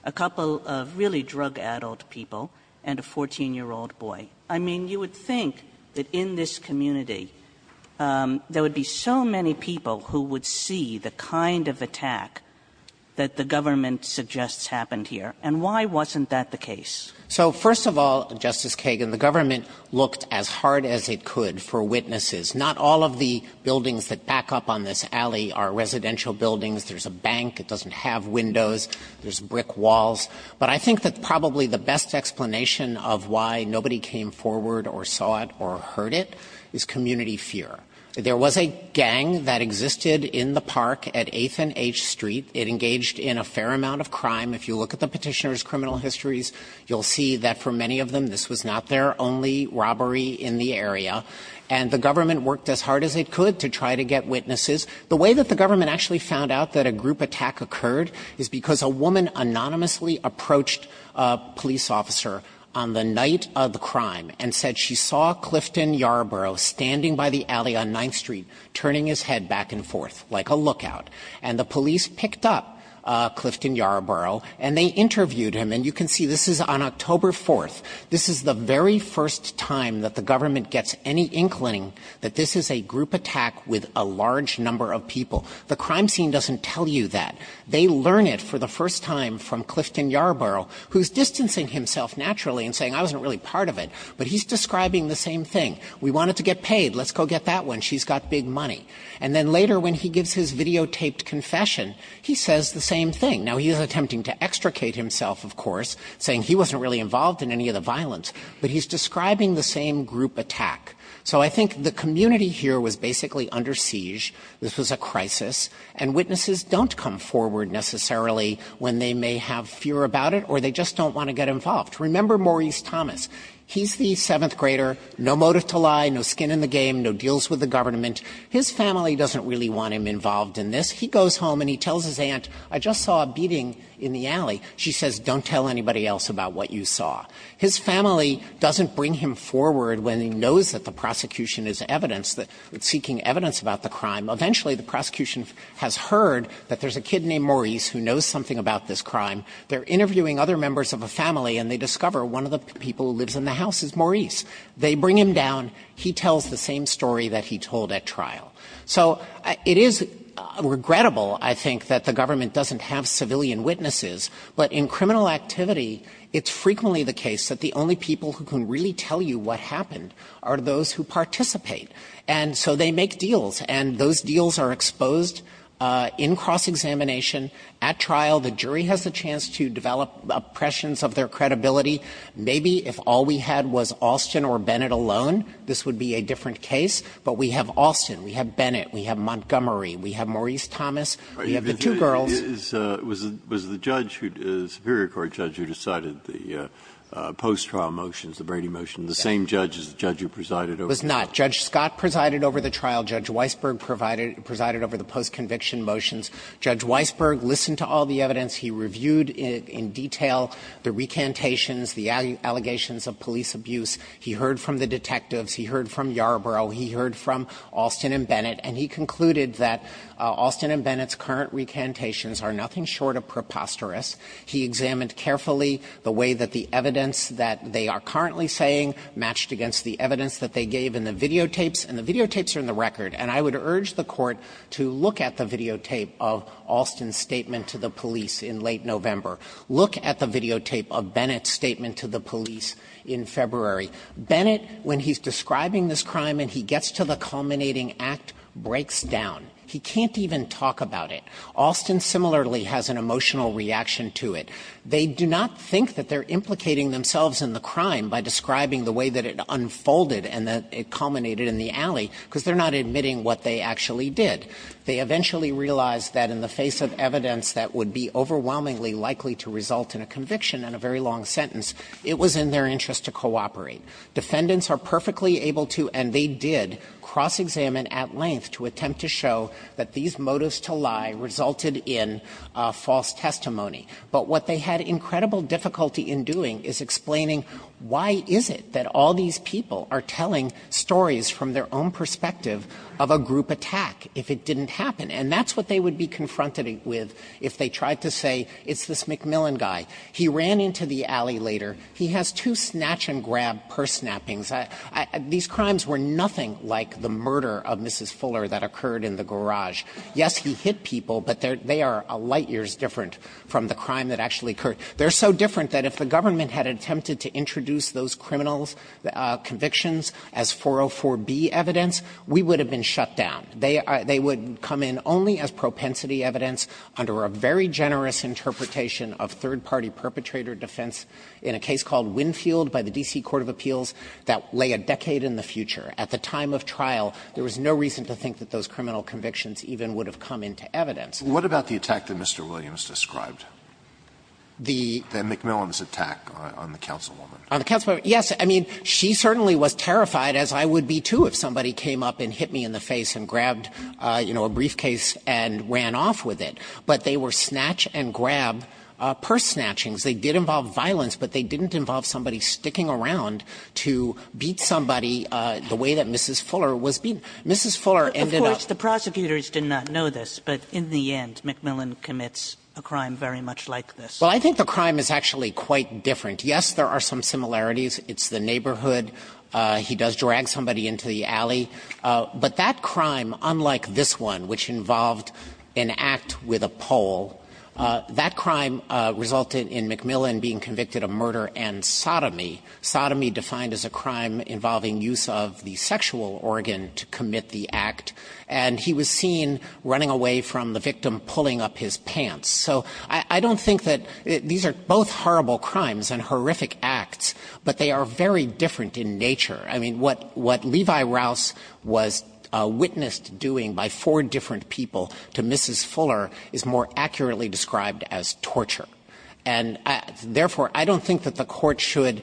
a couple of really drug-addled people, and a 14-year-old boy? I mean, you would think that in this community, there would be so many people who would see the kind of attack that the government suggests happened here. And why wasn't that the case? So first of all, Justice Kagan, the government looked as hard as it could for witnesses. Not all of the buildings that back up on this alley are residential buildings. There's a bank, it doesn't have windows, there's brick walls. But I think that probably the best explanation of why nobody came forward or saw it or heard it is community fear. There was a gang that existed in the park at 8th and H Street. It engaged in a fair amount of crime. If you look at the petitioner's criminal histories, you'll see that for many of them, this was not their only robbery in the area. And the government worked as hard as it could to try to get witnesses. The way that the government actually found out that a group attack occurred is because a woman anonymously approached a police officer on the night of the crime and said she saw Clifton Yarbrough standing by the alley on 9th Street, turning his head back and forth like a lookout. And the police picked up Clifton Yarbrough and they interviewed him. And you can see this is on October 4th. This is the very first time that the government gets any inkling that this is a group attack with a large number of people. The crime scene doesn't tell you that. They learn it for the first time from Clifton Yarbrough, who's distancing himself naturally and saying I wasn't really part of it, but he's describing the same thing. We wanted to get paid. Let's go get that one. She's got big money. And then later when he gives his videotaped confession, he says the same thing. Now, he is attempting to extricate himself, of course, saying he wasn't really involved in any of the violence, but he's describing the same group attack. So I think the community here was basically under siege. This was a crisis. And witnesses don't come forward necessarily when they may have fear about it or they just don't want to get involved. Remember Maurice Thomas. He's the seventh grader, no motive to lie, no skin in the game, no deals with the government. His family doesn't really want him involved in this. He goes home and he tells his aunt, I just saw a beating in the alley. She says, don't tell anybody else about what you saw. His family doesn't bring him forward when he knows that the prosecution is evidence that it's seeking evidence about the crime. Eventually, the prosecution has heard that there's a kid named Maurice who knows something about this crime. They're interviewing other members of a family and they discover one of the people who lives in the house is Maurice. They bring him down. He tells the same story that he told at trial. So it is regrettable, I think, that the government doesn't have civilian witnesses, but in criminal activity, it's frequently the case that the only people who can really tell you what happened are those who participate. And so they make deals, and those deals are exposed in cross-examination at trial. The jury has a chance to develop oppressions of their credibility. Maybe if all we had was Alston or Bennett alone, this would be a different case. But we have Alston, we have Bennett, we have Montgomery, we have Maurice Thomas, we have the two girls. Breyer, was the judge who, the Superior Court judge who decided the post-trial motions, the Brady motions, the same judge as the judge who presided over the trial? It was not. Judge Scott presided over the trial. Judge Weisberg presided over the post-conviction motions. Judge Weisberg listened to all the evidence. He reviewed in detail the recantations, the allegations of police abuse. He heard from the detectives. He heard from Yarbrough. He heard from Alston and Bennett. And he concluded that Alston and Bennett's current recantations are nothing short of preposterous. He examined carefully the way that the evidence that they are currently saying matched against the evidence that they gave in the videotapes, and the videotapes are in the record. And I would urge the Court to look at the videotape of Alston's statement to the police in late November. Look at the videotape of Bennett's statement to the police in February. Bennett, when he's describing this crime and he gets to the culminating act, breaks down. He can't even talk about it. Alston similarly has an emotional reaction to it. They do not think that they're implicating themselves in the crime by describing the way that it unfolded and that it culminated in the alley, because they're not admitting what they actually did. They eventually realized that in the face of evidence that would be overwhelmingly likely to result in a conviction and a very long sentence, it was in their interest to cooperate. Defendants are perfectly able to, and they did, cross-examine at length to attempt to show that these motives to lie resulted in false testimony. But what they had incredible difficulty in doing is explaining why is it that all these people are telling stories from their own perspective of a group attack if it didn't happen. And that's what they would be confronted with if they tried to say, it's this McMillan guy. He ran into the alley later. He has two snatch-and-grab purse snappings. These crimes were nothing like the murder of Mrs. Fuller that occurred in the garage. Yes, he hit people, but they are a light year's different from the crime that actually occurred. They're so different that if the government had attempted to introduce those criminals' convictions as 404B evidence, we would have been shut down. They would come in only as propensity evidence under a very generous interpretation of third-party perpetrator defense in a case called Winfield by the D.C. Court of Appeals that lay a decade in the future. At the time of trial, there was no reason to think that those criminal convictions even would have come into evidence. Alitoso, what about the attack that Mr. Williams described? The McMillan's attack on the councilwoman? On the councilwoman, yes. I mean, she certainly was terrified, as I would be, too, if somebody came up and hit me in the face and grabbed, you know, a briefcase and ran off with it. But they were snatch-and-grab purse snatchings. They did involve violence, but they didn't involve somebody sticking around to beat somebody the way that Mrs. Fuller was beaten. Mrs. Fuller ended up as a victim of the attack. And I don't think that's very much like this. Well, I think the crime is actually quite different. Yes, there are some similarities. It's the neighborhood. He does drag somebody into the alley. But that crime, unlike this one, which involved an act with a pole, that crime resulted in McMillan being convicted of murder and sodomy, sodomy defined as a crime involving use of the sexual organ to commit the act. And he was seen running away from the victim, pulling up his pants. So I don't think that these are both horrible crimes and horrific acts, but they are very different in nature. I mean, what Levi Rouse was witnessed doing by four different people to Mrs. Fuller is more accurately described as torture. And therefore, I don't think that the Court should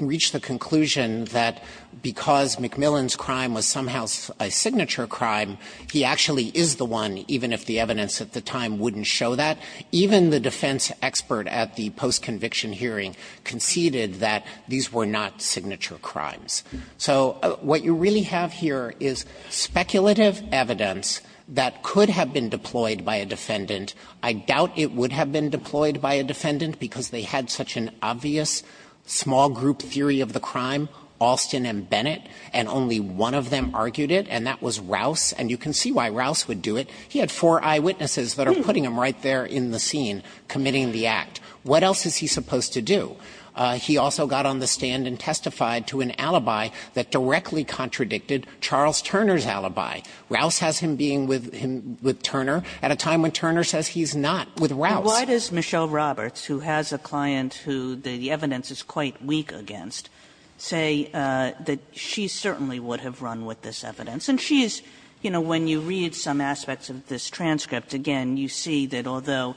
reach the conclusion that because McMillan's crime was somehow a signature crime, he actually is the one, even if the evidence at the time wouldn't show that. Even the defense expert at the post-conviction hearing conceded that these were not signature crimes. So what you really have here is speculative evidence that could have been deployed by a defendant. I doubt it would have been deployed by a defendant because they had such an obvious small group theory of the crime, Alston and Bennett, and only one of them argued it, and that was Rouse. And you can see why Rouse would do it. He had four eyewitnesses that are putting him right there in the scene committing the act. What else is he supposed to do? He also got on the stand and testified to an alibi that directly contradicted Charles Turner's alibi. Rouse has him being with him, with Turner, at a time when Turner says he's not with Rouse. Kagan. say that she certainly would have run with this evidence. And she's, you know, when you read some aspects of this transcript, again, you see that although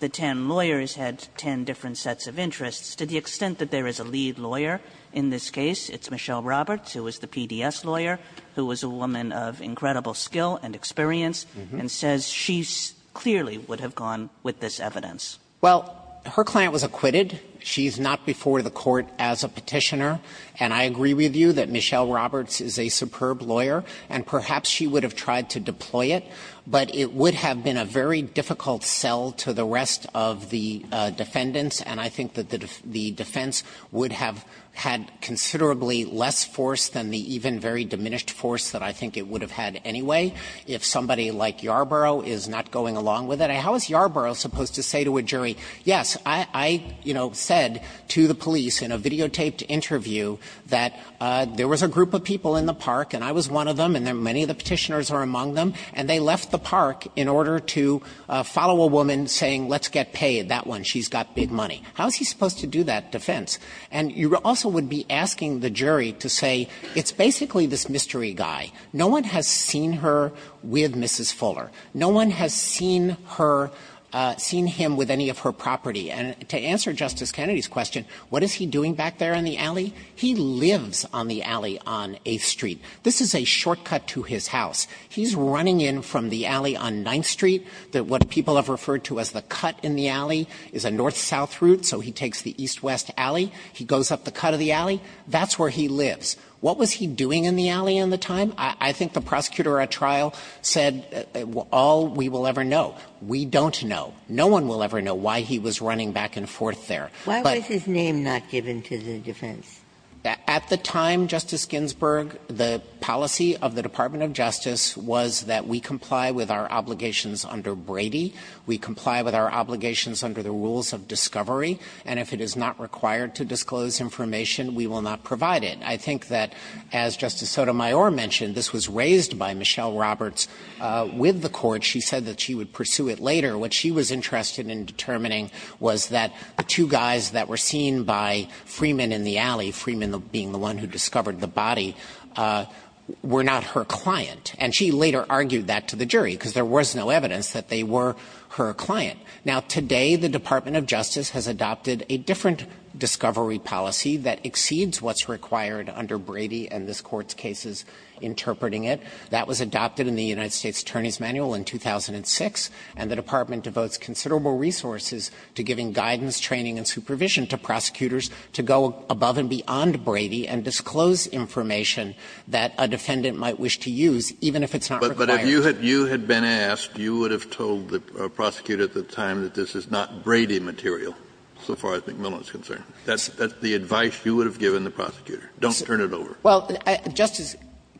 the ten lawyers had ten different sets of interests, to the extent that there is a lead lawyer in this case, it's Michelle Roberts, who is the PDS lawyer, who was a woman of incredible skill and experience, and says she clearly would have gone with this evidence. Well, her client was acquitted. She's not before the Court as a Petitioner, and I agree with you that Michelle Roberts would have run with this evidence, and perhaps she would have tried to deploy it, but it would have been a very difficult sell to the rest of the defendants, and I think that the defense would have had considerably less force than the even very diminished force that I think it would have had anyway if somebody like Yarbrough is not going along with it. How is Yarbrough supposed to say to a jury, yes, I, you know, said to the police in a videotaped interview that there was a group of people in the park, and I was one of them, and many of the Petitioners are among them, and they left the park in order to follow a woman saying, let's get paid, that one, she's got big money. How is he supposed to do that defense? And you also would be asking the jury to say it's basically this mystery guy. No one has seen her with Mrs. Fuller. No one has seen her, seen him with any of her property. And to answer Justice Kennedy's question, what is he doing back there in the alley? He lives on the alley on 8th Street. This is a shortcut to his house. He's running in from the alley on 9th Street, what people have referred to as the cut in the alley, is a north-south route, so he takes the east-west alley, he goes up the cut of the alley, that's where he lives. What was he doing in the alley in the time? I think the prosecutor at trial said all we will ever know. We don't know. No one will ever know why he was running back and forth there. But why was his name not given to the defense? At the time, Justice Ginsburg, the policy of the Department of Justice was that we comply with our obligations under Brady, we comply with our obligations under the rules of discovery, and if it is not required to disclose information, we will not provide it. I think that, as Justice Sotomayor mentioned, this was raised by Michelle Roberts with the court. She said that she would pursue it later. What she was interested in determining was that the two guys that were seen by Freeman in the alley, Freeman being the one who discovered the body, were not her client. And she later argued that to the jury, because there was no evidence that they were her client. Now, today the Department of Justice has adopted a different discovery policy that exceeds what's required under Brady and this Court's cases interpreting it. That was adopted in the United States Attorney's Manual in 2006, and the Department devotes considerable resources to giving guidance, training, and supervision to prosecutors to go above and beyond Brady and disclose information that a defendant might wish to use, even if it's not required.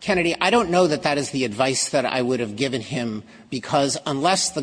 Kennedy, I don't know that that is the advice that I would have given him, because which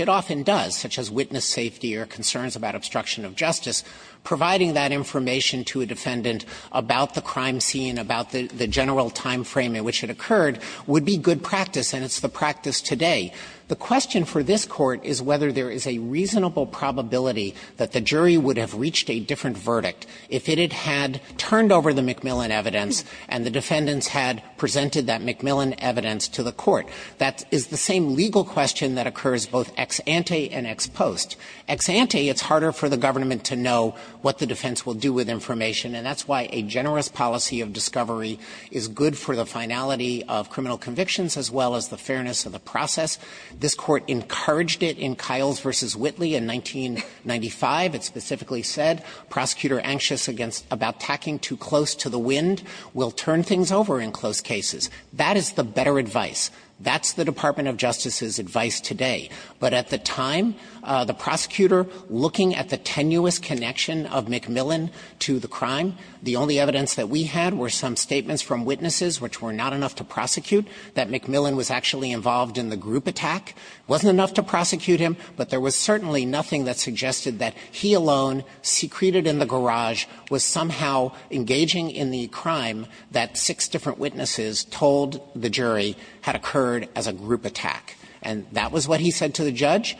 it often does, such as witness safety or concerns about obstruction of justice. Providing that information to a defendant about the crime scene, about the general time frame in which it occurred, would be good practice, and it's the practice today. The question for this Court is whether there is a reasonable probability that the jury would have reached a different verdict if it had turned over the MacMillan evidence and the defendants had presented that MacMillan evidence to the Court. That is the same legal question that occurs both ex ante and ex post. Ex ante, it's harder for the government to know what the defense will do with information, and that's why a generous policy of discovery is good for the finality of criminal convictions as well as the fairness of the process. This Court encouraged it in Kiles v. Whitley in 1995. It specifically said, prosecutor anxious against – about tacking too close to the wind will turn things over in close cases. That is the better advice. That's the Department of Justice's advice today. But at the time, the prosecutor looking at the tenuous connection of MacMillan to the crime, the only evidence that we had were some statements from witnesses which were not enough to prosecute, that MacMillan was actually involved in the group attack, wasn't enough to prosecute him, but there was certainly nothing that suggested that he alone secreted in the garage was somehow engaging in the crime that six different witnesses told the jury had occurred as a group attack. And that was what he said to the judge.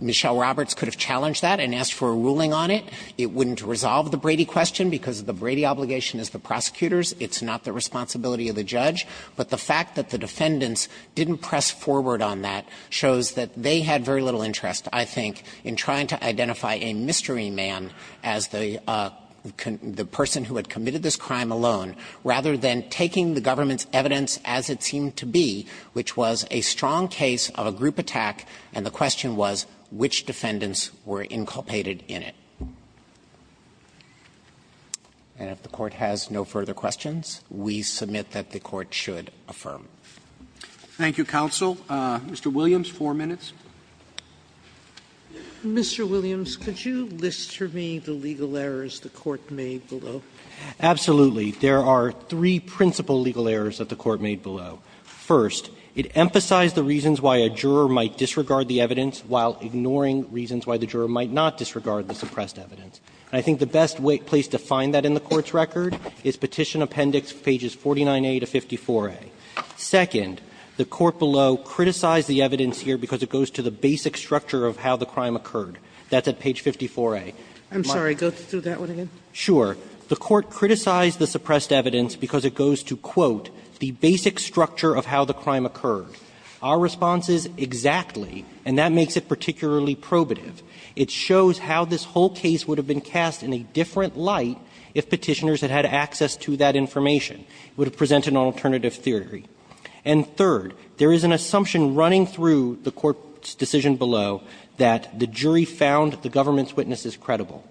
Michelle Roberts could have challenged that and asked for a ruling on it. It wouldn't resolve the Brady question, because the Brady obligation is the prosecutor's. It's not the responsibility of the judge. But the fact that the defendants didn't press forward on that shows that they had very little interest, I think, in trying to identify a mystery man as the person who had committed this crime alone, rather than taking the government's evidence as it seemed to be, which was a strong case of a group attack, and the question was which defendants were inculpated in it. And if the Court has no further questions, we submit that the Court should affirm. Roberts. Thank you, counsel. Mr. Williams, four minutes. Mr. Williams, could you list for me the legal errors the Court made below? Absolutely. There are three principal legal errors that the Court made below. First, it emphasized the reasons why a juror might disregard the evidence while ignoring reasons why the juror might not disregard the suppressed evidence. And I think the best place to find that in the Court's record is Petition Appendix pages 49a to 54a. Second, the Court below criticized the evidence here because it goes to the basic structure of how the crime occurred. That's at page 54a. I'm sorry. Go through that one again. Sure. The Court criticized the suppressed evidence because it goes to, quote, the basic structure of how the crime occurred. Our response is exactly, and that makes it particularly probative. It shows how this whole case would have been cast in a different light if Petitioners had had access to that information. It would have presented an alternative theory. And third, there is an assumption running through the Court's decision below that the jury found the government's witness is credible.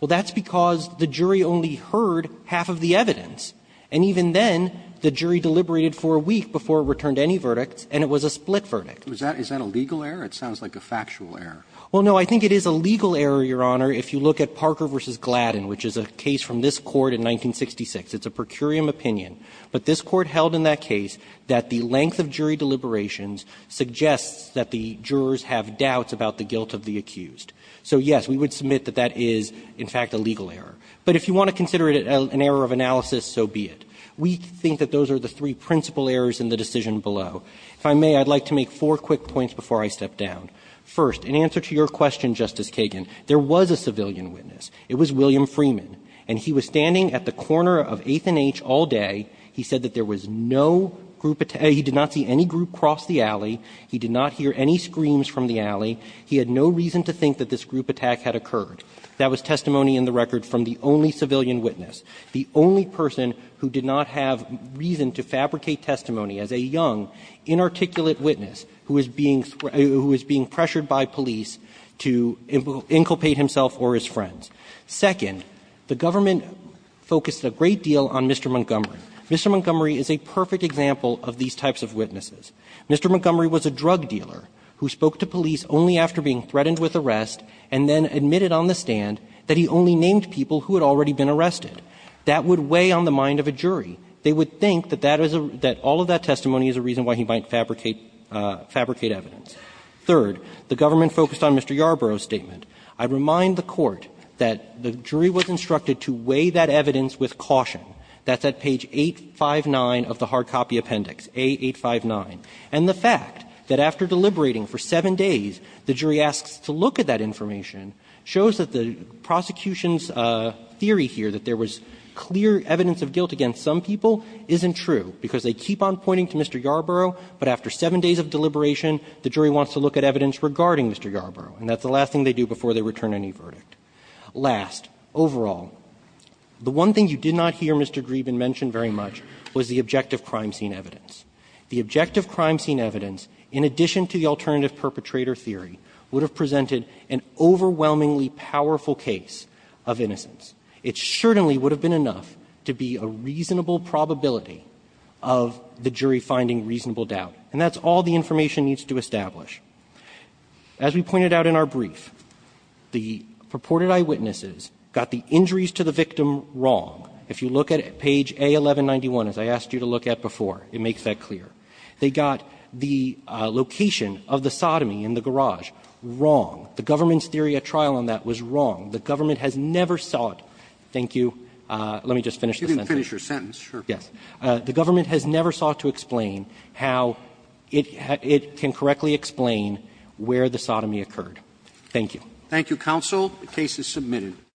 Well, that's because the jury only heard half of the evidence. And even then, the jury deliberated for a week before it returned any verdicts, and it was a split verdict. Is that a legal error? It sounds like a factual error. Well, no. I think it is a legal error, Your Honor, if you look at Parker v. Gladden, which is a case from this Court in 1966. It's a per curiam opinion. But this Court held in that case that the length of jury deliberations suggests that the jurors have doubts about the guilt of the accused. So, yes, we would submit that that is, in fact, a legal error. But if you want to consider it an error of analysis, so be it. We think that those are the three principal errors in the decision below. If I may, I'd like to make four quick points before I step down. First, in answer to your question, Justice Kagan, there was a civilian witness. It was William Freeman. And he was standing at the corner of 8th and H all day. He said that there was no group attack. He did not see any group cross the alley. He did not hear any screams from the alley. He had no reason to think that this group attack had occurred. That was testimony in the record from the only civilian witness, the only person who did not have reason to fabricate testimony as a young, inarticulate witness who is being pressured by police to inculpate himself or his friends. Second, the government focused a great deal on Mr. Montgomery. Mr. Montgomery is a perfect example of these types of witnesses. Mr. Montgomery was a drug dealer who spoke to police only after being threatened with arrest and then admitted on the stand that he only named people who had already been arrested. That would weigh on the mind of a jury. They would think that that is a – that all of that testimony is a reason why he might fabricate – fabricate evidence. Third, the government focused on Mr. Yarbrough's statement. I remind the Court that the jury was instructed to weigh that evidence with caution. That's at page 859 of the hard copy appendix, A859. And the fact that after deliberating for seven days, the jury asks to look at that information shows that the prosecution's theory here, that there was clear evidence of guilt against some people, isn't true, because they keep on pointing to Mr. Yarbrough, but after seven days of deliberation, the jury wants to look at evidence regarding Mr. Yarbrough, and that's the last thing they do before they return any verdict. Last, overall, the one thing you did not hear Mr. Grieben mention very much was the objective crime scene evidence. The objective crime scene evidence, in addition to the alternative perpetrator theory, would have presented an overwhelmingly powerful case of innocence. It certainly would have been enough to be a reasonable probability of the jury finding reasonable doubt, and that's all the information needs to establish. As we pointed out in our brief, the purported eyewitnesses got the injuries to the victim wrong. If you look at page A1191, as I asked you to look at before, it makes that clear. They got the location of the sodomy in the garage wrong. The government's theory at trial on that was wrong. The government has never sought to explain how it can correctly explain where the sodomy occurred. Thank you. Roberts. Thank you, counsel. The case is submitted.